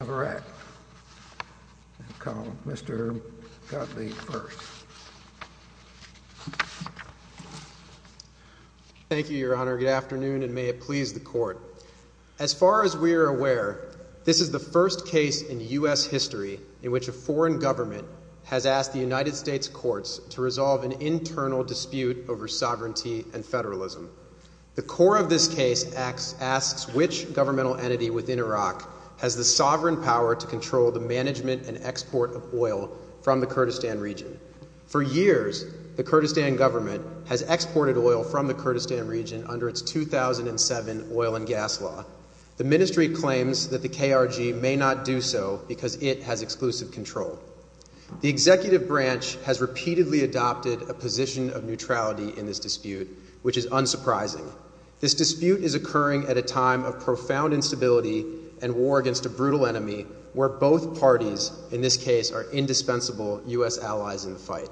of the Republic of Iraq, and call Mr. Gottlieb first. Thank you, Your Honor. Good afternoon, and may it please the Court. As far as we are aware, this is the first case in U.S. history in which a foreign government has asked the United States courts to resolve an internal dispute over sovereignty and federalism. The core of this case asks which governmental entity within Iraq has the sovereign power to control the management and export of oil from the Kurdistan region. For years, the Kurdistan government has exported oil from the Kurdistan region under its 2007 oil and gas law. The Mnstry claims that the KRG may not do so because it has exclusive control. The executive branch has repeatedly adopted a position of neutrality in this dispute, which is unsurprising. This dispute is occurring at a time of profound instability and war against a brutal enemy where both parties, in this case, are indispensable U.S. allies in the fight.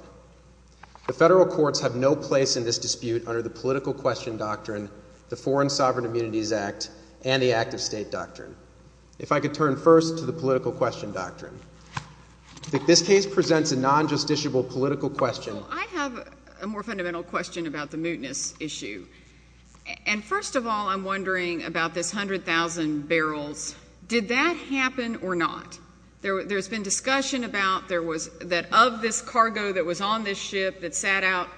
The federal courts have no place in this dispute under the political question doctrine, the Foreign Sovereign Immunities Act, and the active state doctrine. If I could turn first to the political question doctrine. This case presents a non-justiciable political question. I have a more fundamental question about the mootness issue. And first of all, I'm wondering about this 100,000 barrels. Did that happen or not? There's been discussion about there was that of this cargo that was on this ship that sat out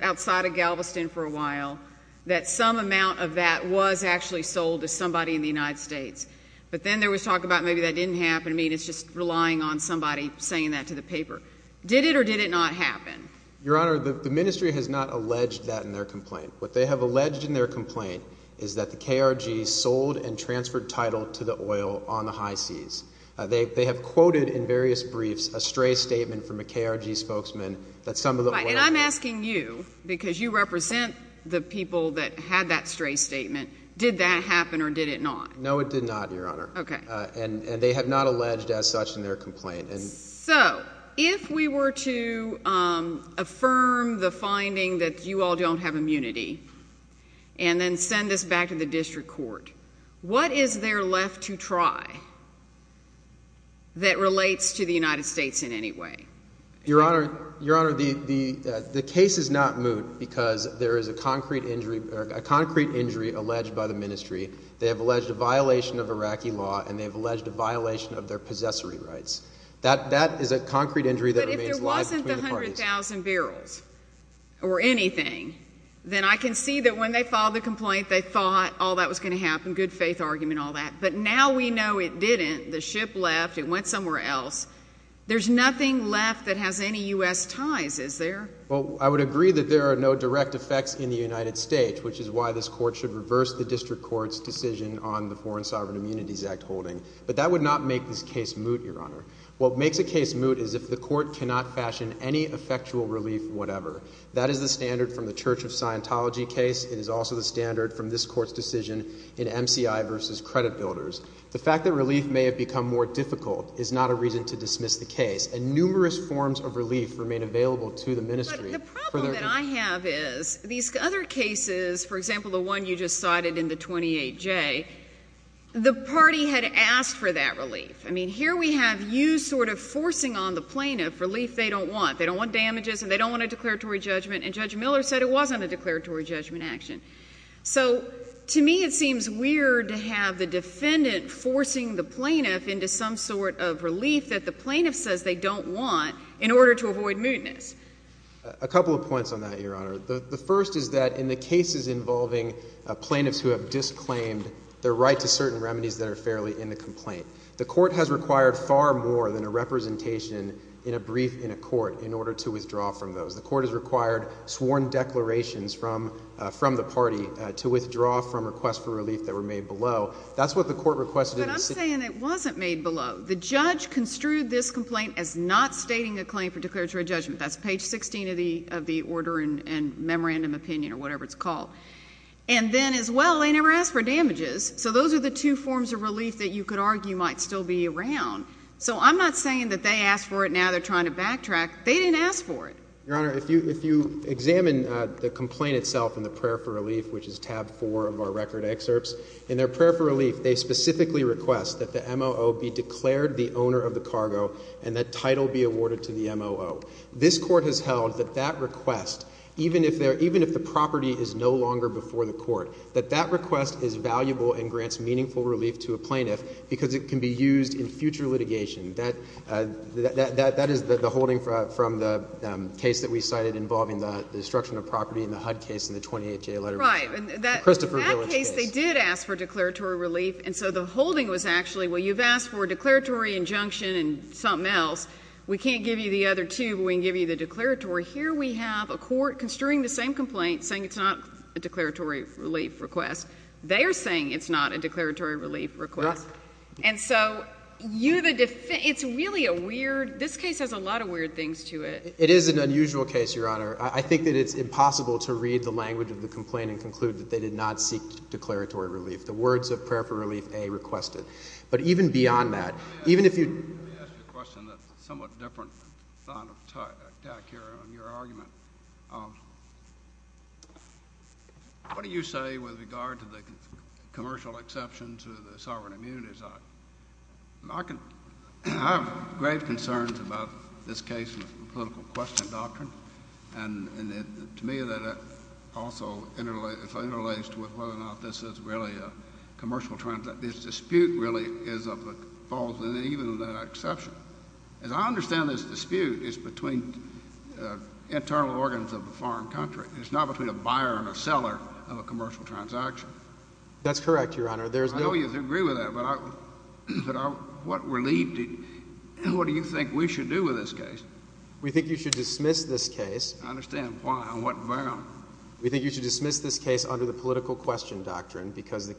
outside of Galveston for a while, that some amount of that was actually sold to somebody in the United States. But then there was talk about maybe that didn't happen. I mean, it's just relying on somebody saying that to the paper. Did it or did it not happen? Your Honor, the ministry has not alleged that in their complaint. What they have alleged in their complaint is that the KRG sold and transferred title to the oil on the high seas. They have quoted in various briefs a stray statement from a KRG spokesman that some of the oil— And I'm asking you, because you represent the people that had that stray statement. Did that happen or did it not? No, it did not, Your Honor. And they have not alleged as such in their complaint. So, if we were to affirm the finding that you all don't have immunity and then send us back to the district court, what is there left to try that relates to the United States in any way? Your Honor, the case is not moot because there is a concrete injury alleged by the ministry. They have alleged a violation of Iraqi law and they have alleged a violation of their That is a concrete injury that remains live between the parties. But if there wasn't the 100,000 barrels or anything, then I can see that when they filed the complaint, they thought all that was going to happen, good faith argument, all that. But now we know it didn't. The ship left. It went somewhere else. There's nothing left that has any U.S. ties, is there? Well, I would agree that there are no direct effects in the United States, which is why this court should reverse the district court's decision on the Foreign Sovereign Immunities Act holding. But that would not make this case moot, Your Honor. What makes a case moot is if the court cannot fashion any effectual relief whatever. That is the standard from the Church of Scientology case. It is also the standard from this court's decision in MCI v. Credit Builders. The fact that relief may have become more difficult is not a reason to dismiss the case. And numerous forms of relief remain available to the ministry for their use. But the problem that I have is these other cases, for example, the one you just cited in the 28J, the party had asked for that relief. I mean, here we have you sort of forcing on the plaintiff relief they don't want. They don't want damages, and they don't want a declaratory judgment, and Judge Miller said it wasn't a declaratory judgment action. So to me, it seems weird to have the defendant forcing the plaintiff into some sort of relief that the plaintiff says they don't want in order to avoid mootness. A couple of points on that, Your Honor. The first is that in the cases involving plaintiffs who have disclaimed their right to certain remedies that are fairly in the complaint. The court has required far more than a representation in a brief in a court in order to withdraw from those. The court has required sworn declarations from the party to withdraw from requests for relief that were made below. That's what the court requested in the city. But I'm saying it wasn't made below. The judge construed this complaint as not stating a claim for declaratory judgment. That's page 16 of the order and memorandum opinion or whatever it's called. And then as well, they never asked for damages. So those are the two forms of relief that you could argue might still be around. So I'm not saying that they asked for it now they're trying to backtrack. They didn't ask for it. Your Honor, if you examine the complaint itself in the prayer for relief, which is tab 4 of our record excerpts, in their prayer for relief, they specifically request that the M.O.O. be declared the owner of the cargo and that title be awarded to the M.O.O. This court has held that that request, even if the property is no longer before the court, that that request is valuable and grants meaningful relief to a plaintiff because it can be used in future litigation. That is the holding from the case that we cited involving the destruction of property in the HUD case in the 28th Jail letter. Right. Christopher Village case. In that case, they did ask for declaratory relief. And so the holding was actually, well, you've asked for a declaratory injunction and something else. We can't give you the other two, but we can give you the declaratory. Here we have a court construing the same complaint, saying it's not a declaratory relief request. They are saying it's not a declaratory relief request. And so you, the defense, it's really a weird, this case has a lot of weird things to it. It is an unusual case, Your Honor. I think that it's impossible to read the language of the complaint and conclude that they did not seek declaratory relief. The words of prayer for relief, A, requested. But even beyond that, even if you- Let me ask you a question that's somewhat different than the attack here on your argument. What do you say with regard to the commercial exception to the Sovereign Immunity Act? I have grave concerns about this case and the political question doctrine. And to me, that also interlaced with whether or not this is really a commercial transaction. This dispute really is of the fault of even that exception. As I understand this dispute, it's between internal organs of a foreign country. It's not between a buyer and a seller of a commercial transaction. That's correct, Your Honor. There's no- I know you agree with that, but what relief, what do you think we should do with this case? We think you should dismiss this case- I understand. Why? On what ground? We think you should dismiss this case under the political question doctrine because the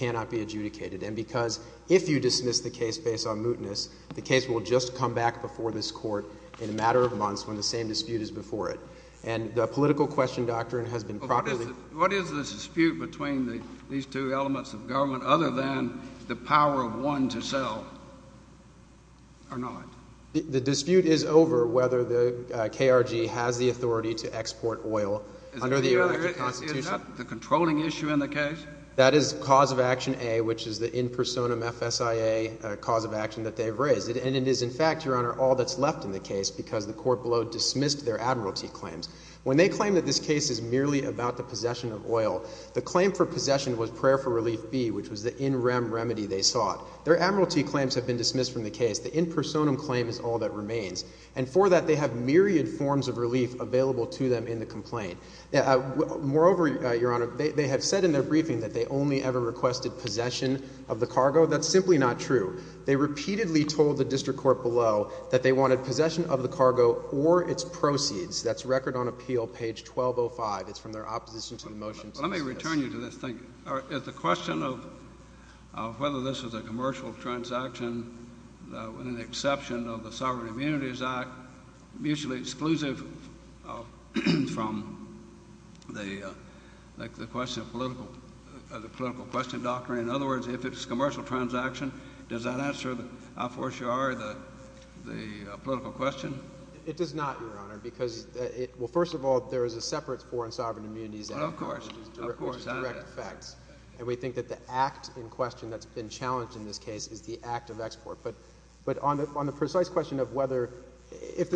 And because if you dismiss the case based on mootness, the case will just come back before this court in a matter of months when the same dispute is before it. And the political question doctrine has been properly- What is the dispute between these two elements of government other than the power of one to sell or not? The dispute is over whether the KRG has the authority to export oil under the American Constitution. Is that the controlling issue in the case? That is cause of action A, which is the in personam FSIA cause of action that they've raised. And it is, in fact, Your Honor, all that's left in the case because the court below dismissed their admiralty claims. When they claim that this case is merely about the possession of oil, the claim for possession was prayer for relief B, which was the in rem remedy they sought. Their admiralty claims have been dismissed from the case. The in personam claim is all that remains. And for that, they have myriad forms of relief available to them in the complaint. Moreover, Your Honor, they have said in their briefing that they only ever requested possession of the cargo. That's simply not true. They repeatedly told the district court below that they wanted possession of the cargo or its proceeds. That's record on appeal, page 1205. It's from their opposition to the motion. Let me return you to this thing. Is the question of whether this is a commercial transaction with an exception of the Sovereign Immunities Act and the question of the political question doctrine, in other words, if it's a commercial transaction, does that answer, I'll force you, Ari, the political question? It does not, Your Honor, because, well, first of all, there is a separate foreign sovereign immunities act. Of course. Of course. Which has direct effects. And we think that the act in question that's been challenged in this case is the act of export. It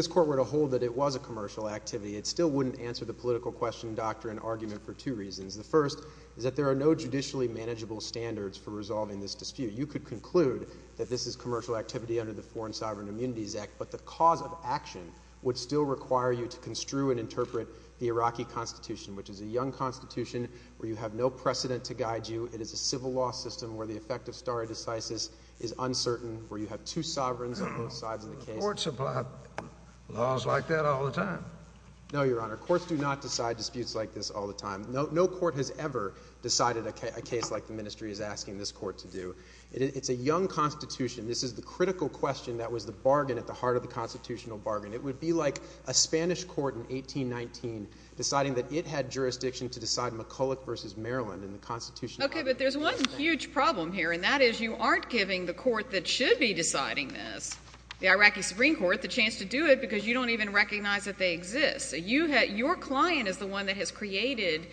still wouldn't answer the political question doctrine argument for two reasons. The first is that there are no judicially manageable standards for resolving this dispute. You could conclude that this is commercial activity under the Foreign Sovereign Immunities Act, but the cause of action would still require you to construe and interpret the Iraqi constitution, which is a young constitution where you have no precedent to guide you. It is a civil law system where the effect of stare decisis is uncertain, where you have two sovereigns on both sides of the case. Courts apply laws like that all the time. No, Your Honor. Courts do not decide disputes like this all the time. No court has ever decided a case like the ministry is asking this court to do. It's a young constitution. This is the critical question that was the bargain at the heart of the constitutional bargain. It would be like a Spanish court in 1819 deciding that it had jurisdiction to decide McCulloch versus Maryland in the Constitution. Okay, but there's one huge problem here, and that is you aren't giving the court that should be deciding this. The Iraqi Supreme Court the chance to do it because you don't even recognize that they exist. So your client is the one that has created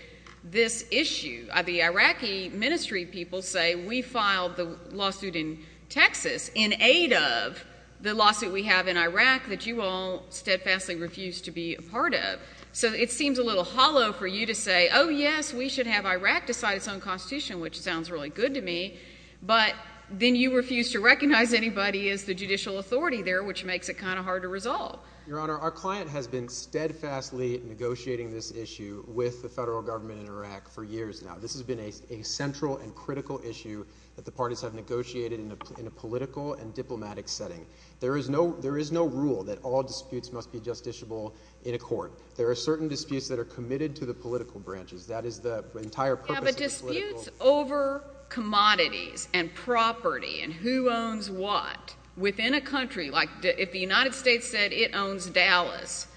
this issue. The Iraqi ministry people say, we filed the lawsuit in Texas in aid of the lawsuit we have in Iraq that you all steadfastly refuse to be a part of. So it seems a little hollow for you to say, oh, yes, we should have Iraq decide its own constitution, which sounds really good to me, but then you refuse to recognize anybody is the judicial authority there, which makes it kind of hard to resolve. Your Honor, our client has been steadfastly negotiating this issue with the federal government in Iraq for years now. This has been a central and critical issue that the parties have negotiated in a political and diplomatic setting. There is no rule that all disputes must be justiciable in a court. There are certain disputes that are committed to the political branches. Yeah, but disputes over commodities and property and who owns what within a country, like if the United States said it owns Dallas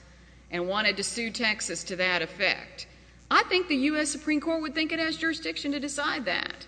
and wanted to sue Texas to that effect, I think the U.S. Supreme Court would think it has jurisdiction to decide that.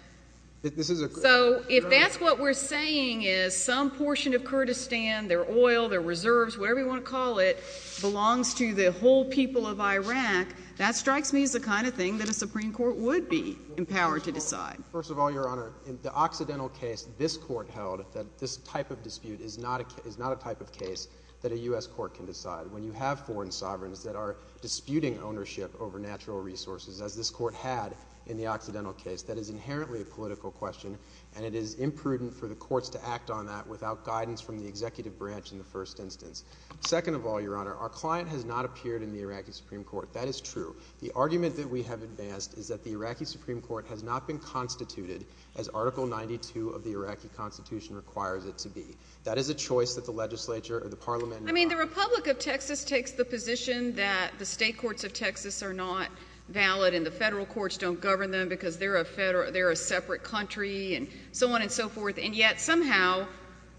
So if that's what we're saying is some portion of Kurdistan, their oil, their reserves, whatever you want to call it, belongs to the whole people of Iraq. That strikes me as the kind of thing that a Supreme Court would be empowered to decide. First of all, Your Honor, in the Occidental case, this court held that this type of dispute is not a type of case that a U.S. court can decide. When you have foreign sovereigns that are disputing ownership over natural resources, as this court had in the Occidental case, that is inherently a political question, and it is imprudent for the courts to act on that without guidance from the executive branch in the first instance. Second of all, Your Honor, our client has not appeared in the Iraqi Supreme Court. That is true. The argument that we have advanced is that the Iraqi Supreme Court has not been constituted as Article 92 of the Iraqi Constitution requires it to be. That is a choice that the legislature or the parliament— I mean, the Republic of Texas takes the position that the state courts of Texas are not valid and the federal courts don't govern them because they're a separate country and so on and so forth, and yet somehow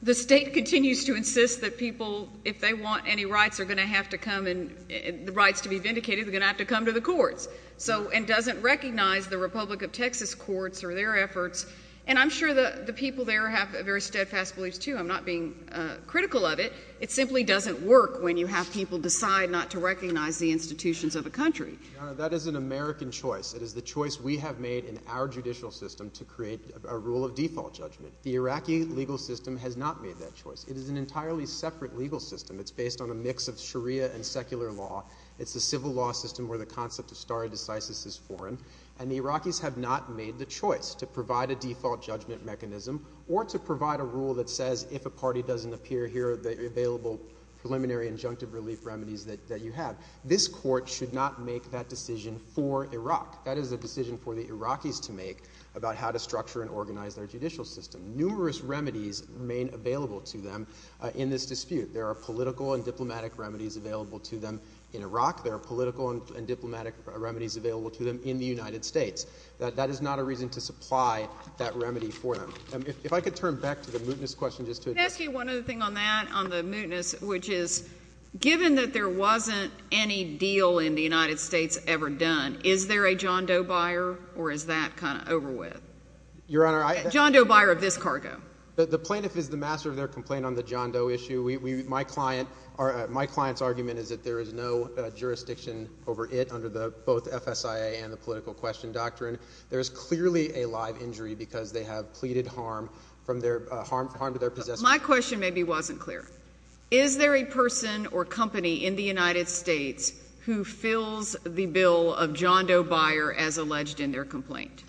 the state continues to insist that people, if they want any rights, are going to have to come and—the rights to be vindicated are going to have to come to the courts, so—and doesn't recognize the Republic of Texas courts or their efforts. And I'm sure the people there have very steadfast beliefs, too. I'm not being critical of it. It simply doesn't work when you have people decide not to recognize the institutions of a country. Your Honor, that is an American choice. It is the choice we have made in our judicial system to create a rule of default judgment. The Iraqi legal system has not made that choice. It is an entirely separate legal system. It's based on a mix of Sharia and secular law. It's a civil law system where the concept of stare decisis is foreign. And the Iraqis have not made the choice to provide a default judgment mechanism or to provide a rule that says, if a party doesn't appear here, the available preliminary injunctive relief remedies that you have. This court should not make that decision for Iraq. That is a decision for the Iraqis to make about how to structure and organize their judicial system. Numerous remedies remain available to them in this dispute. There are political and diplomatic remedies available to them in Iraq. There are political and diplomatic remedies available to them in the United States. That is not a reason to supply that remedy for them. If I could turn back to the mootness question just to address that. Let me ask you one other thing on that, on the mootness, which is, given that there wasn't any deal in the United States ever done, is there a John Doe buyer, or is that kind of over with? Your Honor, I— John Doe buyer of this cargo. The plaintiff is the master of their complaint on the John Doe issue. My client, my client's argument is that there is no jurisdiction over it under the both FSIA and the political question doctrine. There is clearly a live injury because they have pleaded harm from their, harm to their possessor. My question maybe wasn't clear. Is there a person or company in the United States who fills the bill of John Doe buyer as alleged in their complaint?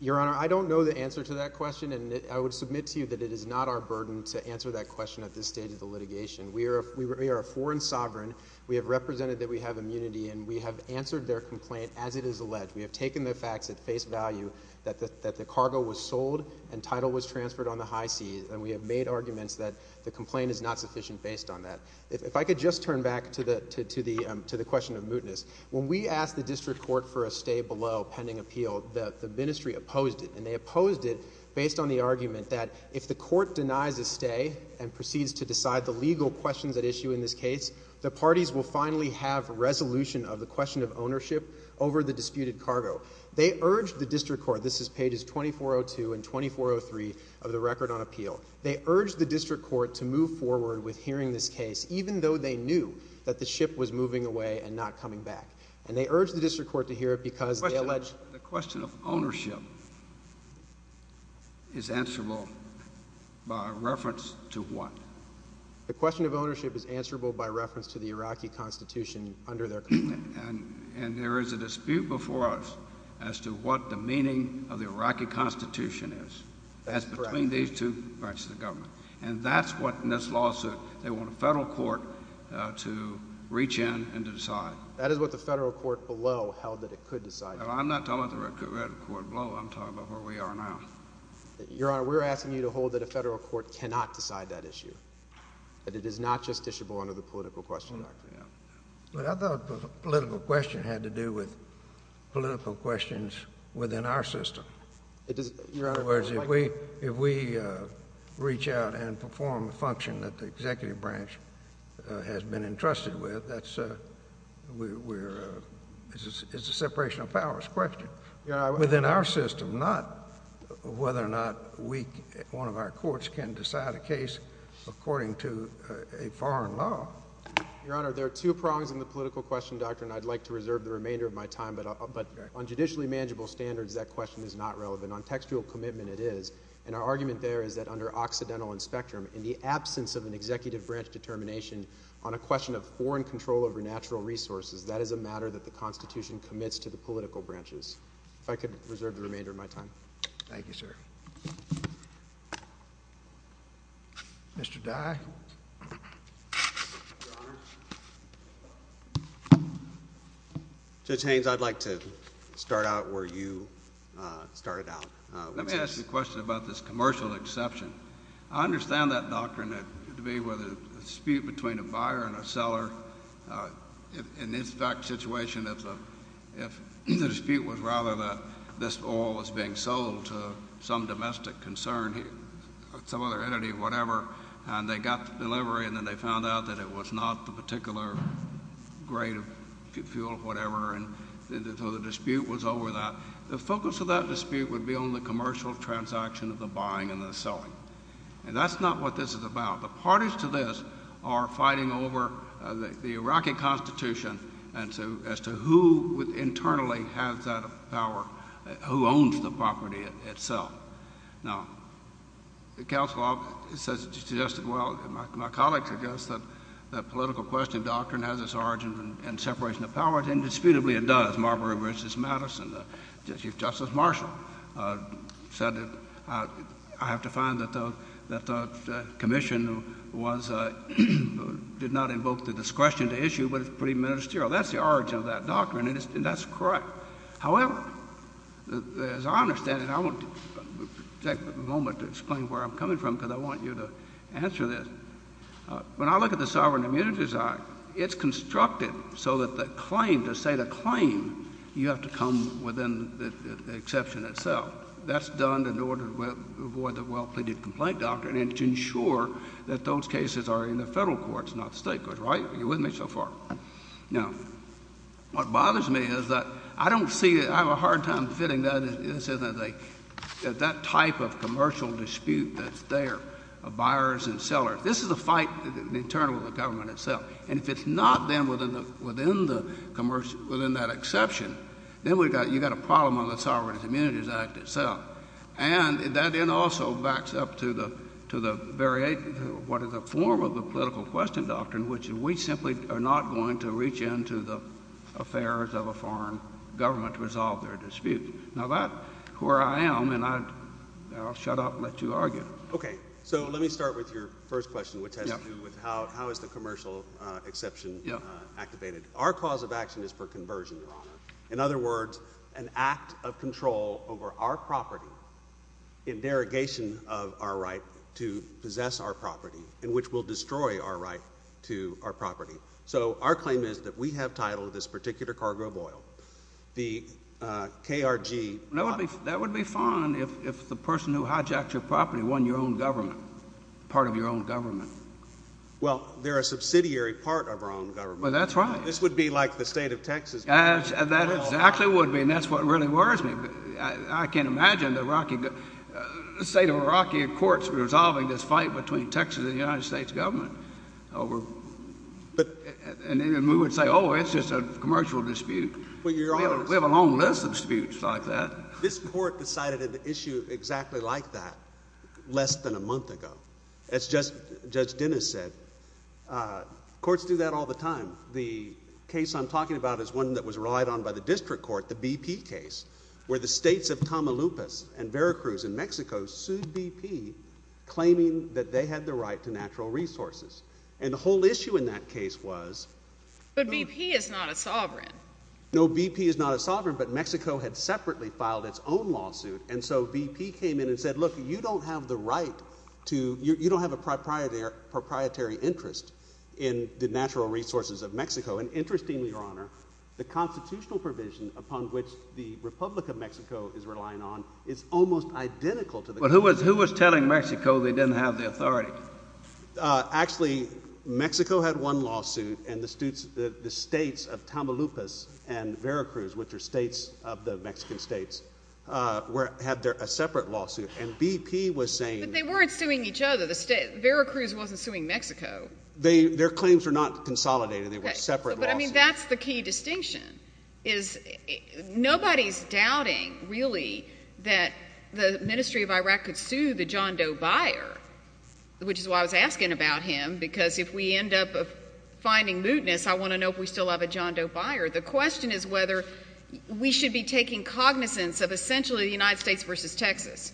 Your Honor, I don't know the answer to that question, and I would submit to you that it We are a foreign sovereign. We have represented that we have immunity, and we have answered their complaint as it is alleged. We have taken the facts at face value that the cargo was sold and title was transferred on the high seas, and we have made arguments that the complaint is not sufficient based on that. If I could just turn back to the question of mootness. When we asked the district court for a stay below pending appeal, the ministry opposed it, and they opposed it based on the argument that if the court denies a stay and proceeds to decide the legal questions at issue in this case, the parties will finally have resolution of the question of ownership over the disputed cargo. They urged the district court, this is pages 2402 and 2403 of the record on appeal. They urged the district court to move forward with hearing this case, even though they knew that the ship was moving away and not coming back. And they urged the district court to hear it because they alleged that the question of ownership is answerable by reference to what? The question of ownership is answerable by reference to the Iraqi constitution under their complaint. And there is a dispute before us as to what the meaning of the Iraqi constitution is. That's correct. That's between these two branches of government. And that's what in this lawsuit, they want a federal court to reach in and to decide. That is what the federal court below held that it could decide. I'm not talking about the red court below, I'm talking about where we are now. Your Honor, we're asking you to hold that a federal court cannot decide that issue. That it is not justiciable under the political question doctrine. But I thought the political question had to do with political questions within our system. It does, Your Honor. In other words, if we reach out and perform a function that the executive branch has been entrusted with, it's a separation of powers question. Within our system, not whether or not one of our courts can decide a case according to a foreign law. Your Honor, there are two prongs in the political question doctrine. I'd like to reserve the remainder of my time. But on judicially manageable standards, that question is not relevant. On textual commitment, it is. And our argument there is that under Occidental and Spectrum, in the absence of an executive branch determination on a question of foreign control over natural resources, that is a matter that the Constitution commits to the political branches. If I could reserve the remainder of my time. Thank you, sir. Mr. Dye. Your Honor. Judge Haynes, I'd like to start out where you started out. Let me ask you a question about this commercial exception. I understand that doctrine to be where there's a dispute between a buyer and a seller. In this exact situation, if the dispute was rather that this oil was being sold to some domestic concern, some other entity or whatever, and they got the delivery and then they found out that it was not the particular grade of fuel or whatever, and so the dispute was over that. The focus of that dispute would be on the commercial transaction of the buying and the selling. And that's not what this is about. The parties to this are fighting over the Iraqi Constitution as to who internally has that power, who owns the property itself. Now, the counsel suggested, well, my colleagues have guessed that political question of doctrine has its origins in separation of powers, and indisputably it does, Marbury v. Madison. Chief Justice Marshall said that I have to find that the commission did not invoke the discretion to issue, but it's pretty ministerial. That's the origin of that doctrine, and that's correct. However, as I understand it, I want to take a moment to explain where I'm coming from because I want you to answer this. When I look at the Sovereign Immunities Act, it's constructed so that the claim, to say the claim, you have to come within the exception itself. That's done in order to avoid the well-pleaded complaint doctrine and to ensure that those cases are in the federal courts, not the state courts, right? Are you with me so far? Now, what bothers me is that I don't see it, I have a hard time fitting that, that type of commercial dispute that's there of buyers and sellers. This is a fight internal to the government itself, and if it's not then within the commercial dispute, within that exception, then you've got a problem on the Sovereign Immunities Act itself. And that then also backs up to the very form of the political question doctrine, which we simply are not going to reach into the affairs of a foreign government to resolve their dispute. Now, that's where I am, and I'll shut up and let you argue. Okay. So let me start with your first question, which has to do with how is the commercial exception activated? Our cause of action is for conversion, Your Honor. In other words, an act of control over our property in derogation of our right to possess our property, in which we'll destroy our right to our property. So our claim is that we have titled this particular cargo of oil, the KRG— That would be fine if the person who hijacked your property wasn't your own government, part of your own government. Well, they're a subsidiary part of our own government. Well, that's right. This would be like the state of Texas. That exactly would be, and that's what really worries me. I can't imagine the state of Iraqi courts resolving this fight between Texas and the United States government. And then we would say, oh, it's just a commercial dispute. We have a long list of disputes like that. This court decided an issue exactly like that less than a month ago. As Judge Dennis said, courts do that all the time. The case I'm talking about is one that was relied on by the district court, the BP case, where the states of Tamaulipas and Veracruz in Mexico sued BP, claiming that they had the right to natural resources. And the whole issue in that case was— But BP is not a sovereign. No, BP is not a sovereign, but Mexico had separately filed its own lawsuit. And so BP came in and said, look, you don't have the right to—you don't have a proprietary interest in the natural resources of Mexico. And interestingly, Your Honor, the constitutional provision upon which the Republic of Mexico is relying on is almost identical to the— But who was telling Mexico they didn't have the authority? Actually Mexico had one lawsuit, and the states of Tamaulipas and Veracruz, which are states of the Mexican states, had their—a separate lawsuit. And BP was saying— But they weren't suing each other. The state—Veracruz wasn't suing Mexico. Their claims were not consolidated. They were separate lawsuits. But, I mean, that's the key distinction, is nobody's doubting, really, that the Ministry of Iraq could sue the John Doe buyer, which is why I was asking about him, because if we end up finding mootness, I want to know if we still have a John Doe buyer. The question is whether we should be taking cognizance of essentially the United States versus Texas.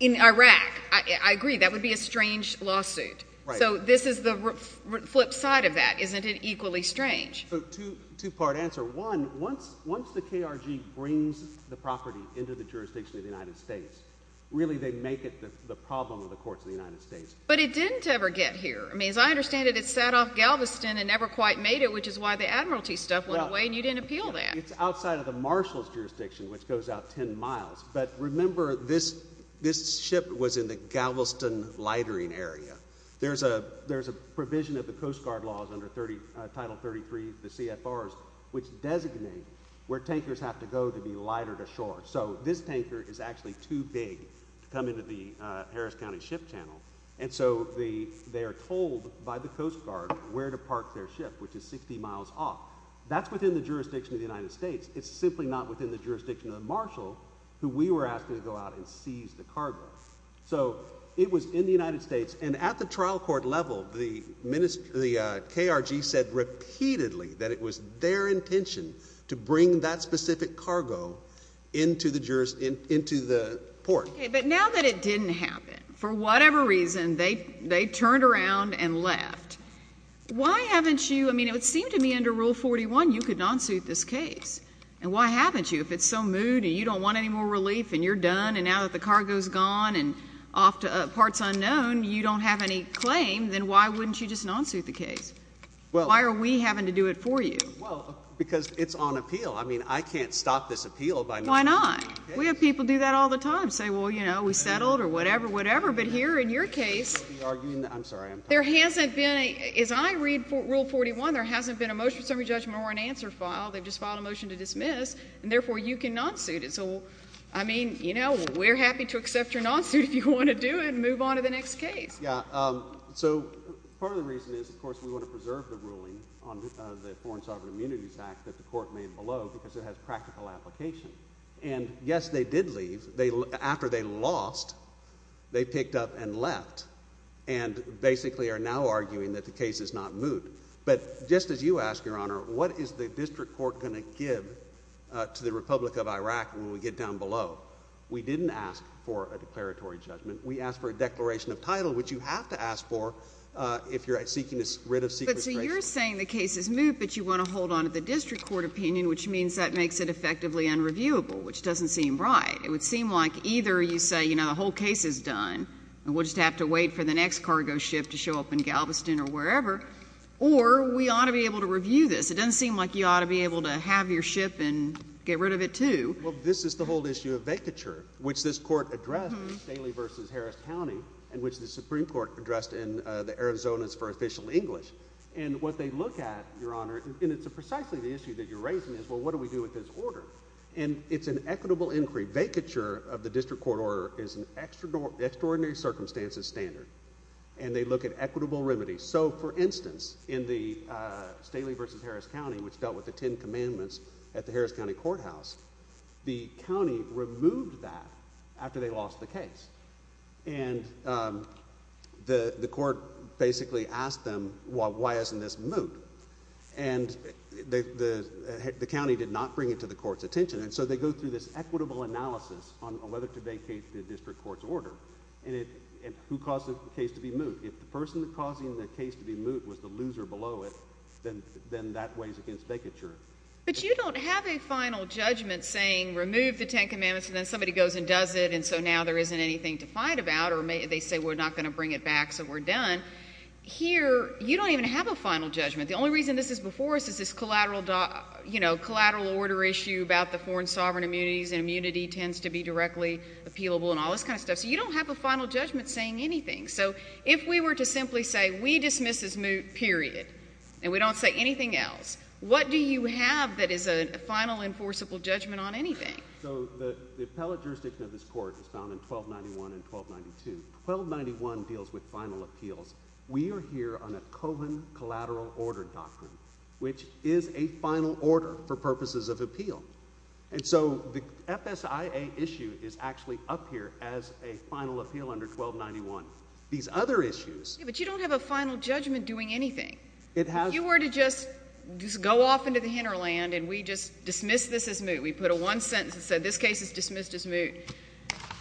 In Iraq, I agree, that would be a strange lawsuit. Right. So this is the flip side of that. Isn't it equally strange? So two—two-part answer. One, once—once the KRG brings the property into the jurisdiction of the United States, really they make it the problem of the courts of the United States. But it didn't ever get here. I mean, as I understand it, it sat off Galveston and never quite made it, which is why they said the admiralty stuff went away and you didn't appeal that. It's outside of the marshal's jurisdiction, which goes out 10 miles. But remember, this—this ship was in the Galveston lightering area. There's a—there's a provision of the Coast Guard laws under 30—Title 33, the CFRs, which designate where tankers have to go to be lighted ashore. So this tanker is actually too big to come into the Harris County Ship Channel. And so the—they are told by the Coast Guard where to park their ship, which is 60 miles off. That's within the jurisdiction of the United States. It's simply not within the jurisdiction of the marshal, who we were asking to go out and seize the cargo. So it was in the United States. And at the trial court level, the minister—the KRG said repeatedly that it was their intention to bring that specific cargo into the juris—into the port. Okay, but now that it didn't happen, for whatever reason, they—they turned around and left. Why haven't you—I mean, it would seem to me under Rule 41 you could non-suit this case. And why haven't you? If it's so moot and you don't want any more relief and you're done and now that the cargo's gone and off to parts unknown, you don't have any claim, then why wouldn't you just non-suit the case? Well— Why are we having to do it for you? Well, because it's on appeal. I mean, I can't stop this appeal by not— Why not? We have people do that all the time, say, well, you know, we settled or whatever, whatever. But here in your case— You're arguing that—I'm sorry, I'm talking— There hasn't been a—as I read Rule 41, there hasn't been a motion of summary judgment or an answer filed. They've just filed a motion to dismiss, and therefore you can non-suit it. So I mean, you know, we're happy to accept your non-suit if you want to do it and move on to the next case. Yeah. So part of the reason is, of course, we want to preserve the ruling on the Foreign Sovereign Immunities Act that the Court made below because it has practical application. And yes, they did leave. After they lost, they picked up and left, and basically are now arguing that the case is not moot. But just as you ask, Your Honor, what is the district court going to give to the Republic of Iraq when we get down below? We didn't ask for a declaratory judgment. We asked for a declaration of title, which you have to ask for if you're seeking to rid of sequestration. But so you're saying the case is moot, but you want to hold on to the district court opinion, which means that makes it effectively unreviewable, which doesn't seem right. It would seem like either you say, you know, the whole case is done, and we'll just have to wait for the next cargo ship to show up in Galveston or wherever, or we ought to be able to review this. It doesn't seem like you ought to be able to have your ship and get rid of it, too. Well, this is the whole issue of vacature, which this Court addressed in Staley v. Harris County and which the Supreme Court addressed in the Arizonas for Official English. And what they look at, Your Honor, and it's precisely the issue that you're raising is, well, what do we do with this order? And it's an equitable inquiry. Vacature of the district court order is an extraordinary circumstances standard, and they look at equitable remedies. So for instance, in the Staley v. Harris County, which dealt with the Ten Commandments at the Harris County Courthouse, the county removed that after they lost the case. And the Court basically asked them, well, why isn't this moot? And the county did not bring it to the Court's attention, and so they go through this equitable analysis on whether to vacate the district court's order and who caused the case to be moot. If the person causing the case to be moot was the loser below it, then that weighs against vacature. But you don't have a final judgment saying, remove the Ten Commandments, and then somebody goes and does it, and so now there isn't anything to fight about, or they say we're not going to bring it back, so we're done. Here you don't even have a final judgment. The only reason this is before us is this collateral order issue about the foreign sovereign immunities, and immunity tends to be directly appealable, and all this kind of stuff. So you don't have a final judgment saying anything. So if we were to simply say, we dismiss as moot, period, and we don't say anything else, what do you have that is a final enforceable judgment on anything? So the appellate jurisdiction of this court is found in 1291 and 1292. 1291 deals with final appeals. We are here on a cohen collateral order doctrine, which is a final order for purposes of appeal. And so the FSIA issue is actually up here as a final appeal under 1291. These other issues Yeah, but you don't have a final judgment doing anything. It has If you were to just go off into the hinterland and we just dismiss this as moot, we put a one sentence that said this case is dismissed as moot,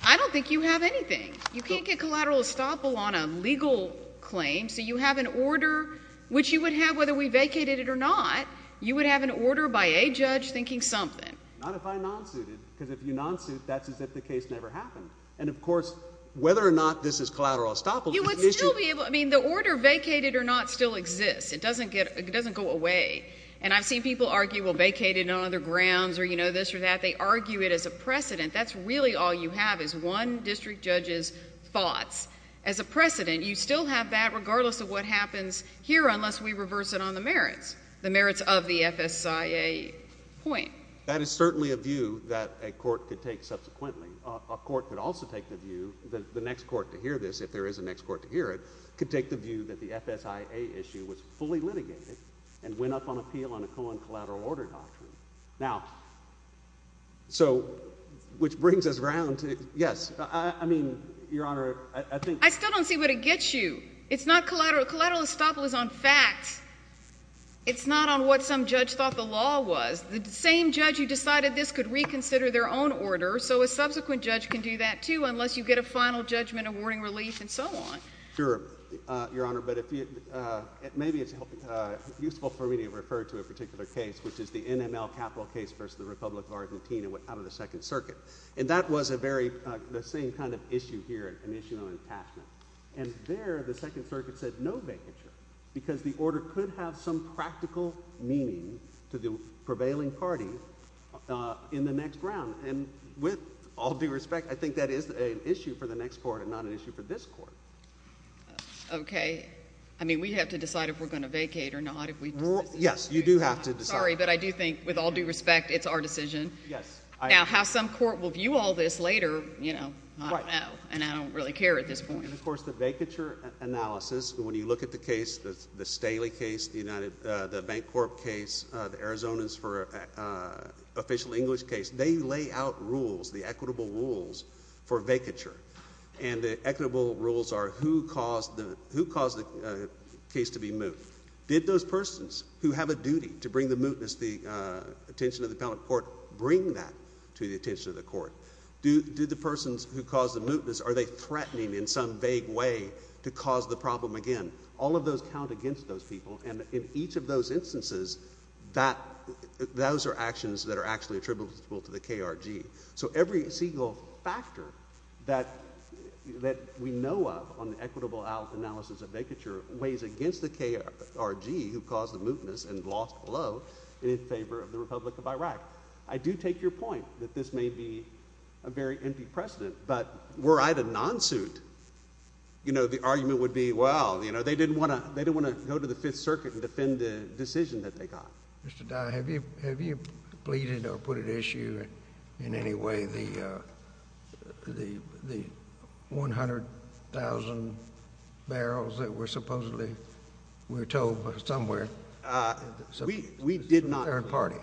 I don't think you have anything. You can't get collateral estoppel on a legal claim, so you have an order, which you would have whether we vacated it or not. You would have an order by a judge thinking something. Not if I non-suited, because if you non-suit, that's as if the case never happened. And of course, whether or not this is collateral estoppel is an issue You would still be able, I mean, the order vacated or not still exists. It doesn't go away. And I've seen people argue, well, vacate it on other grounds or, you know, this or that. They argue it as a precedent. That's really all you have is one district judge's thoughts. As a precedent, you still have that regardless of what happens here unless we reverse it on the merits, the merits of the FSIA point. That is certainly a view that a court could take subsequently. A court could also take the view that the next court to hear this, if there is a next court to hear it, could take the view that the FSIA issue was fully litigated and went up on appeal on a co- and collateral order doctrine. Now, so, which brings us around to, yes, I mean, Your Honor, I think I still don't see what it gets you. It's not collateral. Collateral estoppel is on facts. It's not on what some judge thought the law was. The same judge who decided this could reconsider their own order, so a subsequent judge can do that too, unless you get a final judgment awarding relief and so on. Sure, Your Honor, but maybe it's useful for me to refer to a particular case, which is the NML capital case versus the Republic of Argentina out of the Second Circuit. And that was a very, the same kind of issue here, an issue on attachment. And there, the Second Circuit said no vacature because the order could have some practical meaning to the prevailing party in the next round. And with all due respect, I think that is an issue for the next court and not an issue for this court. Okay. I mean, we have to decide if we're going to vacate or not, if we... Yes, you do have to decide. Sorry, but I do think, with all due respect, it's our decision. Yes. Now, how some court will view all this later, you know, I don't know, and I don't really care at this point. And, of course, the vacature analysis, when you look at the case, the Staley case, the Bank Corp case, the Arizonans for official English case, they lay out rules, the equitable rules for vacature. And the equitable rules are who caused the case to be moot. Did those persons who have a duty to bring the mootness, the attention of the appellate court, bring that to the attention of the court? Did the persons who caused the mootness, are they threatening in some vague way to cause the problem again? All of those count against those people. And in each of those instances, that... those are actions that are actually attributable to the KRG. So every single factor that we know of on the equitable analysis of vacature weighs against the KRG who caused the mootness and lost below in favor of the Republic of Iraq. I do take your point that this may be a very empty precedent, but were I to non-suit, you know, the argument would be, well, you know, they didn't want to go to the Fifth Circuit and defend the decision that they got. Mr. Dye, have you pleaded or put at issue in any way the 100,000 barrels that were supposedly were towed somewhere? We did not. Third party.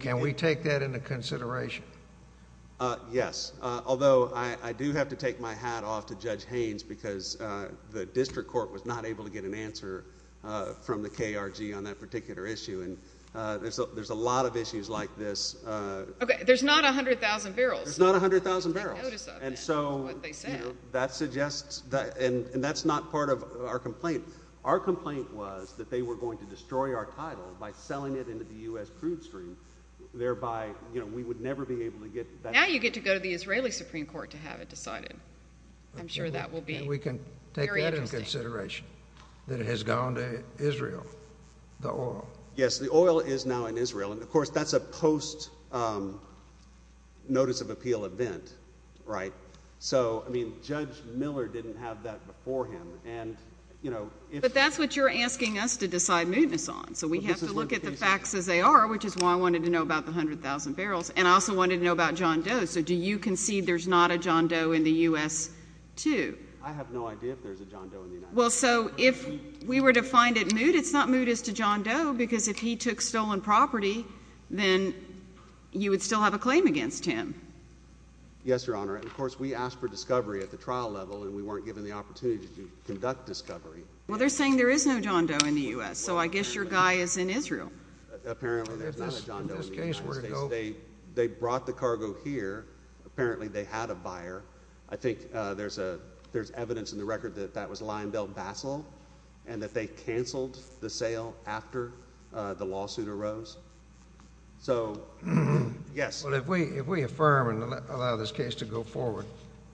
Can we take that into consideration? Yes. Although I do have to take my hat off to Judge Haynes because the district court was not able to get an answer from the KRG on that particular issue, and there's a lot of issues like this. Okay. There's not 100,000 barrels. There's not 100,000 barrels. You should take notice of that. And so... That's what they said. That suggests... and that's not part of our complaint. Our complaint was that they were going to destroy our title by selling it into the U.S. crude stream, thereby, you know, we would never be able to get that... Now you get to go to the Israeli Supreme Court to have it decided. I'm sure that will be very interesting. that it has gone to Israel, the oil. Yes. The oil is now in Israel. And, of course, that's a post-notice of appeal event, right? So I mean, Judge Miller didn't have that before him, and, you know... But that's what you're asking us to decide mootness on. So we have to look at the facts as they are, which is why I wanted to know about the 100,000 barrels. And I also wanted to know about John Doe. So do you concede there's not a John Doe in the U.S. too? I have no idea if there's a John Doe in the United States. Well, so if we were to find it moot, it's not moot as to John Doe, because if he took stolen property, then you would still have a claim against him. Yes, Your Honor. And, of course, we asked for discovery at the trial level, and we weren't given the opportunity to conduct discovery. Well, they're saying there is no John Doe in the U.S., so I guess your guy is in Israel. Apparently, there's not a John Doe in the United States. They brought the cargo here. Apparently, they had a buyer. I think there's evidence in the record that that was Lionel Bassel, and that they canceled the sale after the lawsuit arose. So yes. Well, if we affirm and allow this case to go forward,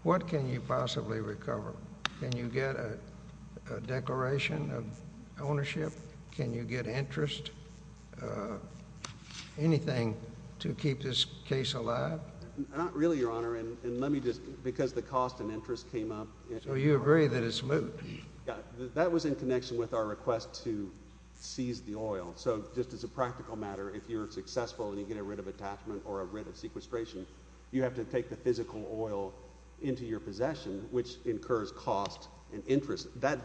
what can you possibly recover? Can you get a declaration of ownership? Can you get interest, anything to keep this case alive? Not really, Your Honor. And let me just—because the cost and interest came up— So you agree that it's moot? Yeah. That was in connection with our request to seize the oil. So just as a practical matter, if you're successful and you get a writ of attachment or a writ of sequestration, you have to take the physical oil into your possession, which incurs cost and interest. That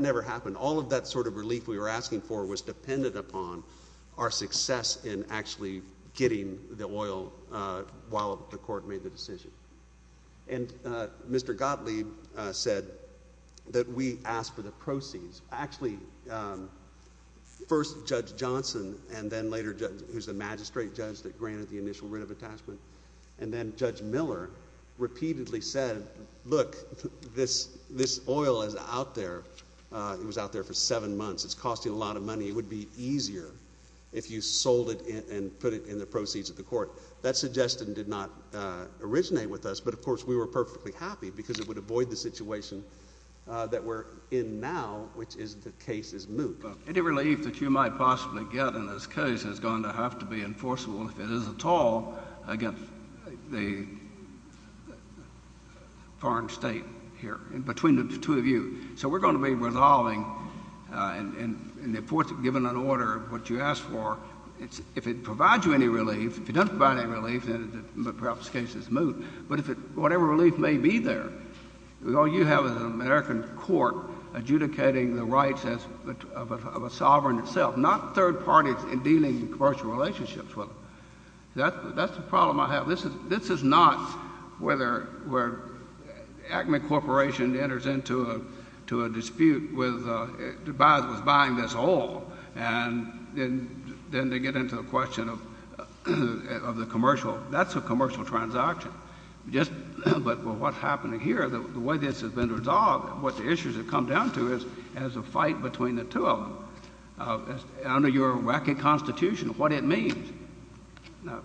never happened. All of that sort of relief we were asking for was dependent upon our success in actually getting the oil while the court made the decision. And Mr. Gottlieb said that we asked for the proceeds. Actually, first Judge Johnson, and then later—who's the magistrate judge that granted the initial writ of attachment—and then Judge Miller repeatedly said, look, this oil is out there. It was out there for seven months. It's costing a lot of money. It would be easier if you sold it and put it in the proceeds of the court. That suggestion did not originate with us, but of course we were perfectly happy because it would avoid the situation that we're in now, which is the case is moot. Any relief that you might possibly get in this case is going to have to be enforceable, if it is at all, against the foreign state here, between the two of you. So we're going to be resolving and giving an order of what you asked for. If it provides you any relief, if it doesn't provide any relief, then perhaps the case is moot. But whatever relief may be there, all you have is an American court adjudicating the rights of a sovereign itself, not third parties in dealing in commercial relationships with them. That's the problem I have. This is not where Acme Corporation enters into a dispute with the buyer that was buying this oil, and then they get into the question of the commercial. That's a commercial transaction. But what's happening here, the way this has been resolved, what the issues have come down to is a fight between the two of them, under your wacky constitution, what it means. Now,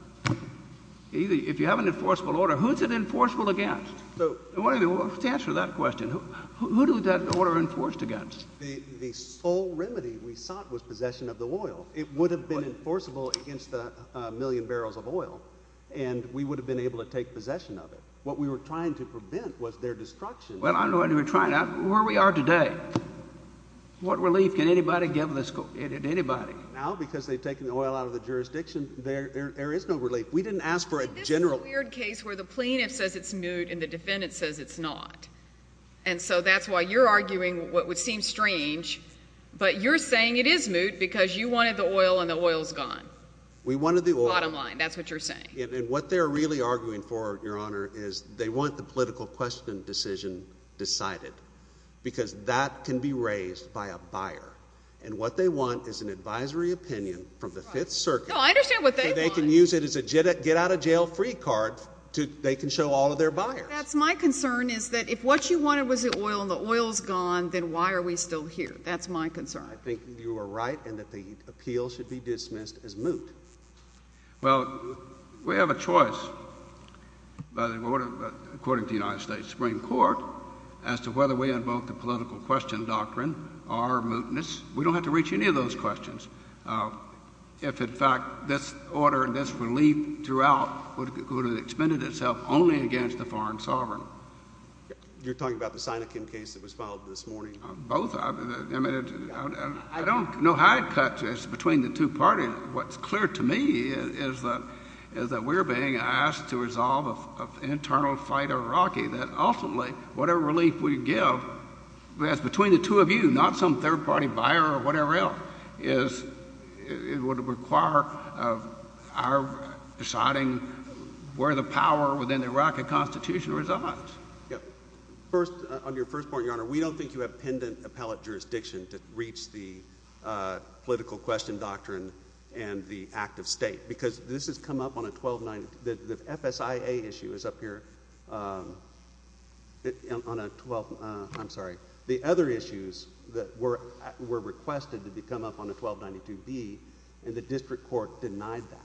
if you have an enforceable order, who is it enforceable against? To answer that question, who is that order enforced against? The sole remedy we sought was possession of the oil. It would have been enforceable against a million barrels of oil, and we would have been able to take possession of it. What we were trying to prevent was their destruction. Well, I'm not trying to—where we are today, what relief can anybody give this—anybody? Now, because they've taken the oil out of the jurisdiction, there is no relief. We didn't ask for a general— But this is a weird case where the plaintiff says it's moot and the defendant says it's not. And so that's why you're arguing what would seem strange, but you're saying it is moot because you wanted the oil and the oil's gone. We wanted the oil. Bottom line. That's what you're saying. And what they're really arguing for, Your Honor, is they want the political question decision decided, because that can be raised by a buyer. And what they want is an advisory opinion from the Fifth Circuit— No, I understand what they want. —so they can use it as a get-out-of-jail-free card to—they can show all of their buyers. That's my concern, is that if what you wanted was the oil and the oil's gone, then why are we still here? That's my concern. I think you are right in that the appeal should be dismissed as moot. Well, we have a choice by the court of—according to the United States Supreme Court as to whether we invoke the political question doctrine or mootness. We don't have to reach any of those questions. If, in fact, this order and this relief throughout would have expended itself only against the foreign sovereign. You're talking about the Sinakin case that was filed this morning? Both. I mean, I don't—no high cut just between the two parties. What's clear to me is that we're being asked to resolve an internal fight of Iraqi, that ultimately, whatever relief we give, that's between the two of you, not some third-party buyer or whatever else, is—it would require our deciding where the power within the Iraqi Constitution resides. Yeah. First, on your first point, Your Honor, we don't think you have pendent appellate jurisdiction to reach the political question doctrine and the act of state, because this has come up on a 1292—the FSIA issue is up here on a 12—I'm sorry, the other issues that were requested to come up on a 1292B, and the district court denied that.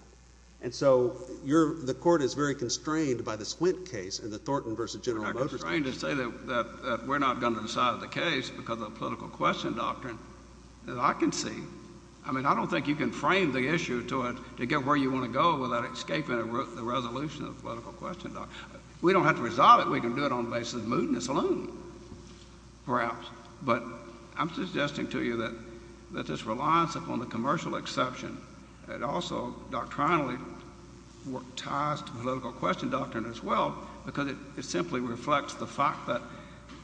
And so you're—the court is very constrained by the Swint case and the Thornton v. General Motors case. I'm constrained to say that we're not going to decide the case because of the political question doctrine that I can see. I mean, I don't think you can frame the issue to get where you want to go with that by escaping the resolution of the political question doctrine. We don't have to resolve it. We can do it on the basis of mootness alone, perhaps. But I'm suggesting to you that this reliance upon the commercial exception, it also doctrinally worked ties to the political question doctrine as well, because it simply reflects the fact that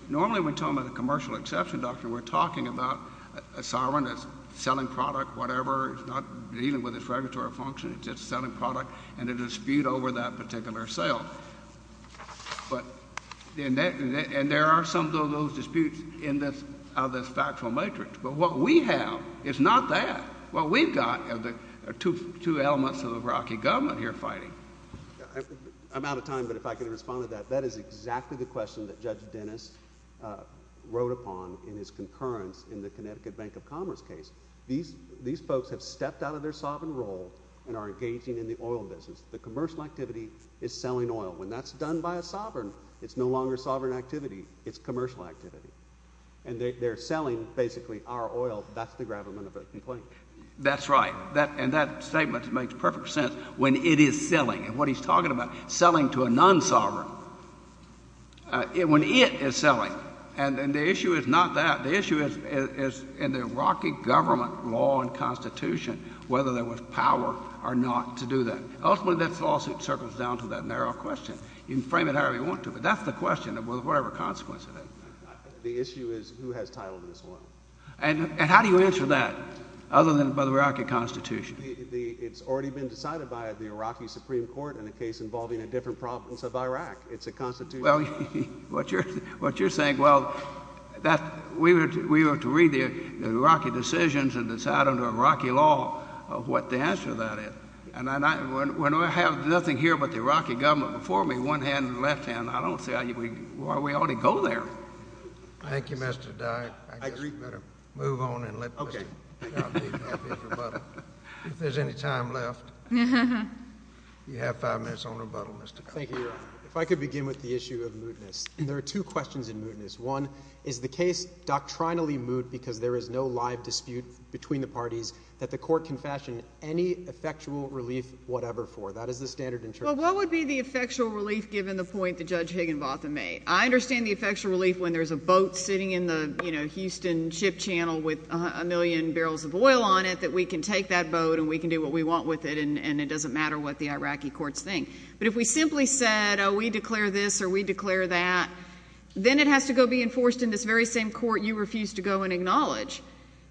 normally when we're talking about the commercial exception doctrine, we're talking about a sovereign that's selling product, whatever, it's not dealing with its regulatory function. It's just selling product and a dispute over that particular sale. And there are some of those disputes in this—of this factual matrix, but what we have is not that. What we've got are the two elements of the Iraqi government here fighting. I'm out of time, but if I could respond to that. That is exactly the question that Judge Dennis wrote upon in his concurrence in the Connecticut Bank of Commerce case. These folks have stepped out of their sovereign role and are engaging in the oil business. The commercial activity is selling oil. When that's done by a sovereign, it's no longer sovereign activity. It's commercial activity. And they're selling, basically, our oil. That's the gravamen of the complaint. That's right. And that statement makes perfect sense. When it is selling, and what he's talking about, selling to a non-sovereign, when it is selling. And the issue is not that. The issue is in the Iraqi government law and constitution, whether there was power or not to do that. Ultimately, this lawsuit circles down to that narrow question. You can frame it however you want to, but that's the question, with whatever consequence it is. The issue is who has title to this oil. And how do you answer that, other than by the Iraqi constitution? It's already been decided by the Iraqi Supreme Court in a case involving a different province of Iraq. It's a constitution. Well, what you're saying, well, we were to read the Iraqi decisions and decide under Iraqi law what the answer to that is. And when I have nothing here but the Iraqi government before me, one hand and left hand, I don't see why we ought to go there. Thank you, Mr. Dyke. I agree. I guess we better move on and let Mr. Shahr be happy for a while. If there's any time left, you have five minutes on rebuttal, Mr. Congressman. Thank you, Your Honor. If I could begin with the issue of mootness. There are two questions in mootness. One, is the case doctrinally moot because there is no live dispute between the parties that the court can fashion any effectual relief whatever for? That is the standard in charge. Well, what would be the effectual relief, given the point that Judge Higginbotham made? I understand the effectual relief when there's a boat sitting in the Houston ship channel with a million barrels of oil on it, that we can take that boat and we can do what we want with it, and it doesn't matter what the Iraqi courts think. But if we simply said, oh, we declare this or we declare that, then it has to go be enforced in this very same court you refuse to go and acknowledge.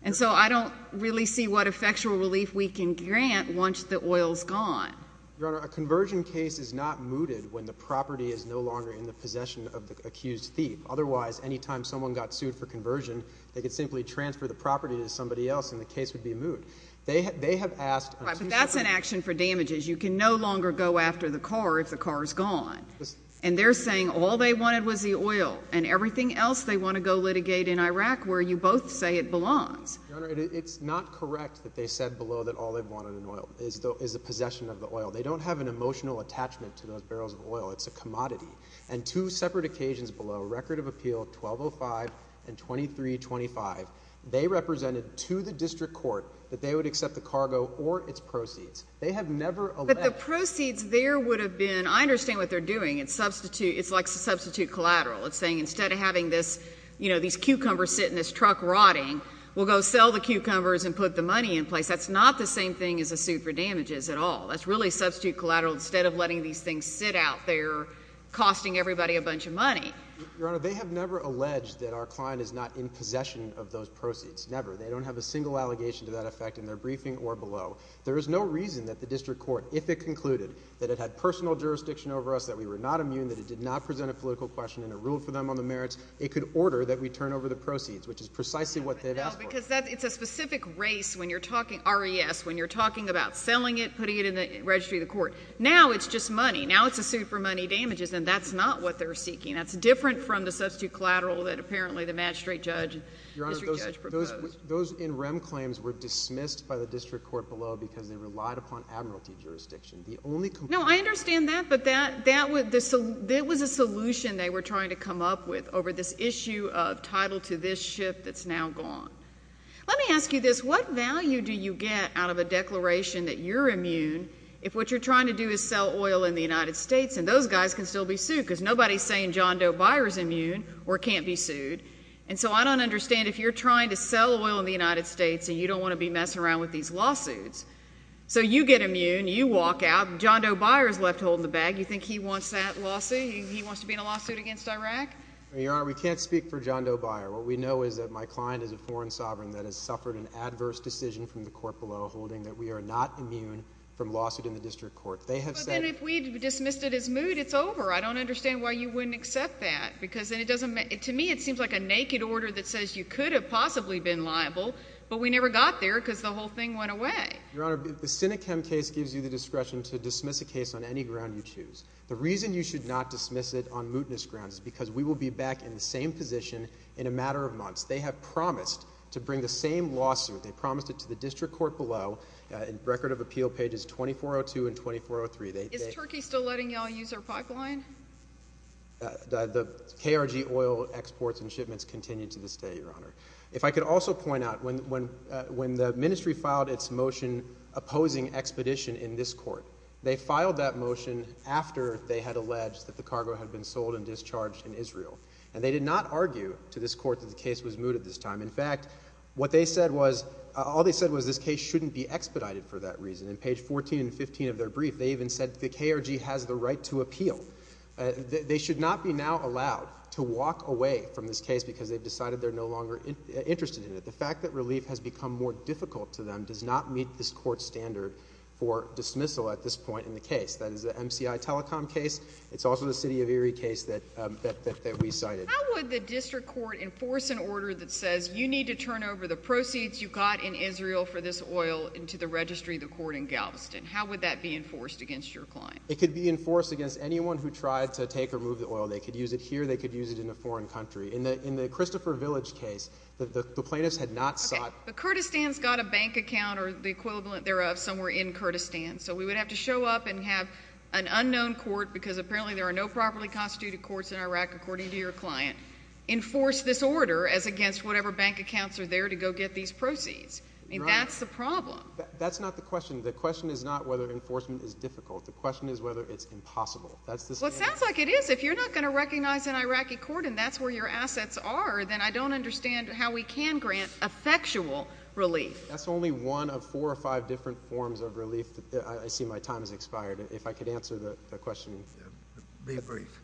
And so I don't really see what effectual relief we can grant once the oil is gone. Your Honor, a conversion case is not mooted when the property is no longer in the possession of the accused thief. Otherwise, any time someone got sued for conversion, they could simply transfer the property to somebody else and the case would be moot. They have asked— Right, but that's an action for damages. You can no longer go after the car if the car is gone. And they're saying all they wanted was the oil and everything else they want to go litigate in Iraq where you both say it belongs. Your Honor, it's not correct that they said below that all they wanted in oil is the possession of the oil. They don't have an emotional attachment to those barrels of oil. It's a commodity. And two separate occasions below, Record of Appeal 1205 and 2325, they represented to the district court that they would accept the cargo or its proceeds. They have never alleged— But the proceeds there would have been—I understand what they're doing. It's like substitute collateral. It's saying instead of having these cucumbers sit in this truck rotting, we'll go sell the cucumbers and put the money in place. That's not the same thing as a suit for damages at all. That's really substitute collateral instead of letting these things sit out there costing everybody a bunch of money. Your Honor, they have never alleged that our client is not in possession of those proceeds, never. They don't have a single allegation to that effect in their briefing or below. There is no reason that the district court, if it concluded that it had personal jurisdiction over us, that we were not immune, that it did not present a political question and it ruled for them on the merits, it could order that we turn over the proceeds, which is precisely what they've asked for. No, because it's a specific race when you're talking—R.E.S.—when you're talking about selling it, putting it in the registry of the court. Now it's just money. Now it's a suit for money damages. And that's not what they're seeking. That's different from the substitute collateral that apparently the magistrate judge and district judge proposed. Those NREM claims were dismissed by the district court below because they relied upon admiralty jurisdiction. The only— No, I understand that, but that was a solution they were trying to come up with over this issue of title to this ship that's now gone. Let me ask you this. What value do you get out of a declaration that you're immune if what you're trying to do is sell oil in the United States and those guys can still be sued because nobody is saying John Doe Buyer is immune or can't be sued. And so I don't understand if you're trying to sell oil in the United States and you don't want to be messing around with these lawsuits. So you get immune. You walk out. John Doe Buyer is left holding the bag. You think he wants that lawsuit? He wants to be in a lawsuit against Iraq? Your Honor, we can't speak for John Doe Buyer. What we know is that my client is a foreign sovereign that has suffered an adverse decision from the court below holding that we are not immune from lawsuit in the district court. They have said— But then if we dismissed it as moot, it's over. I don't understand why you wouldn't accept that. To me, it seems like a naked order that says you could have possibly been liable, but we never got there because the whole thing went away. Your Honor, the Sinechem case gives you the discretion to dismiss a case on any ground you choose. The reason you should not dismiss it on mootness grounds is because we will be back in the same position in a matter of months. They have promised to bring the same lawsuit. They promised it to the district court below in Record of Appeal pages 2402 and 2403. Is Turkey still letting y'all use our pipeline? The KRG oil exports and shipments continue to this day, Your Honor. If I could also point out, when the ministry filed its motion opposing expedition in this court, they filed that motion after they had alleged that the cargo had been sold and discharged in Israel. And they did not argue to this court that the case was mooted this time. In fact, what they said was—all they said was this case shouldn't be expedited for that reason. In page 14 and 15 of their brief, they even said the KRG has the right to appeal. They should not be now allowed to walk away from this case because they've decided they're no longer interested in it. The fact that relief has become more difficult to them does not meet this court's standard for dismissal at this point in the case. That is the MCI Telecom case. It's also the City of Erie case that we cited. How would the district court enforce an order that says you need to turn over the proceeds you got in Israel for this oil into the registry of the court in Galveston? How would that be enforced against your client? It could be enforced against anyone who tried to take or move the oil. They could use it here. They could use it in a foreign country. In the Christopher Village case, the plaintiffs had not sought— Okay, but Kurdistan's got a bank account or the equivalent thereof somewhere in Kurdistan, so we would have to show up and have an unknown court, because apparently there are no properly constituted courts in Iraq according to your client, enforce this order as against whatever bank accounts are there to go get these proceeds. Right. I mean, that's the problem. That's not the question. The question is not whether enforcement is difficult. The question is whether it's impossible. That's the— Well, it sounds like it is. If you're not going to recognize an Iraqi court and that's where your assets are, then I don't understand how we can grant effectual relief. That's only one of four or five different forms of relief. I see my time has expired. If I could answer the question— Be brief.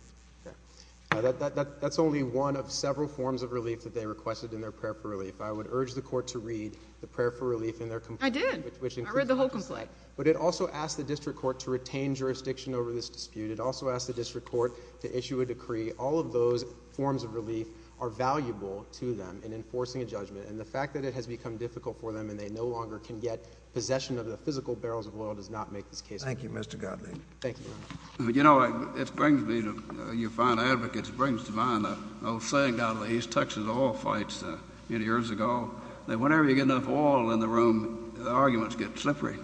That's only one of several forms of relief that they requested in their prayer for relief. I would urge the court to read the prayer for relief in their complaint— I did. I read the whole complaint. But it also asked the district court to retain jurisdiction over this dispute. It also asked the district court to issue a decree. All of those forms of relief are valuable to them in enforcing a judgment. And the fact that it has become difficult for them and they no longer can get possession of the physical barrels of oil does not make this case— Thank you, Mr. Gottlieb. Thank you, Your Honor. You know, it brings me to—your fine advocates brings to mind the old saying down in the east, Texas oil fights, you know, years ago, that whenever you get enough oil in the room, the arguments get slippery.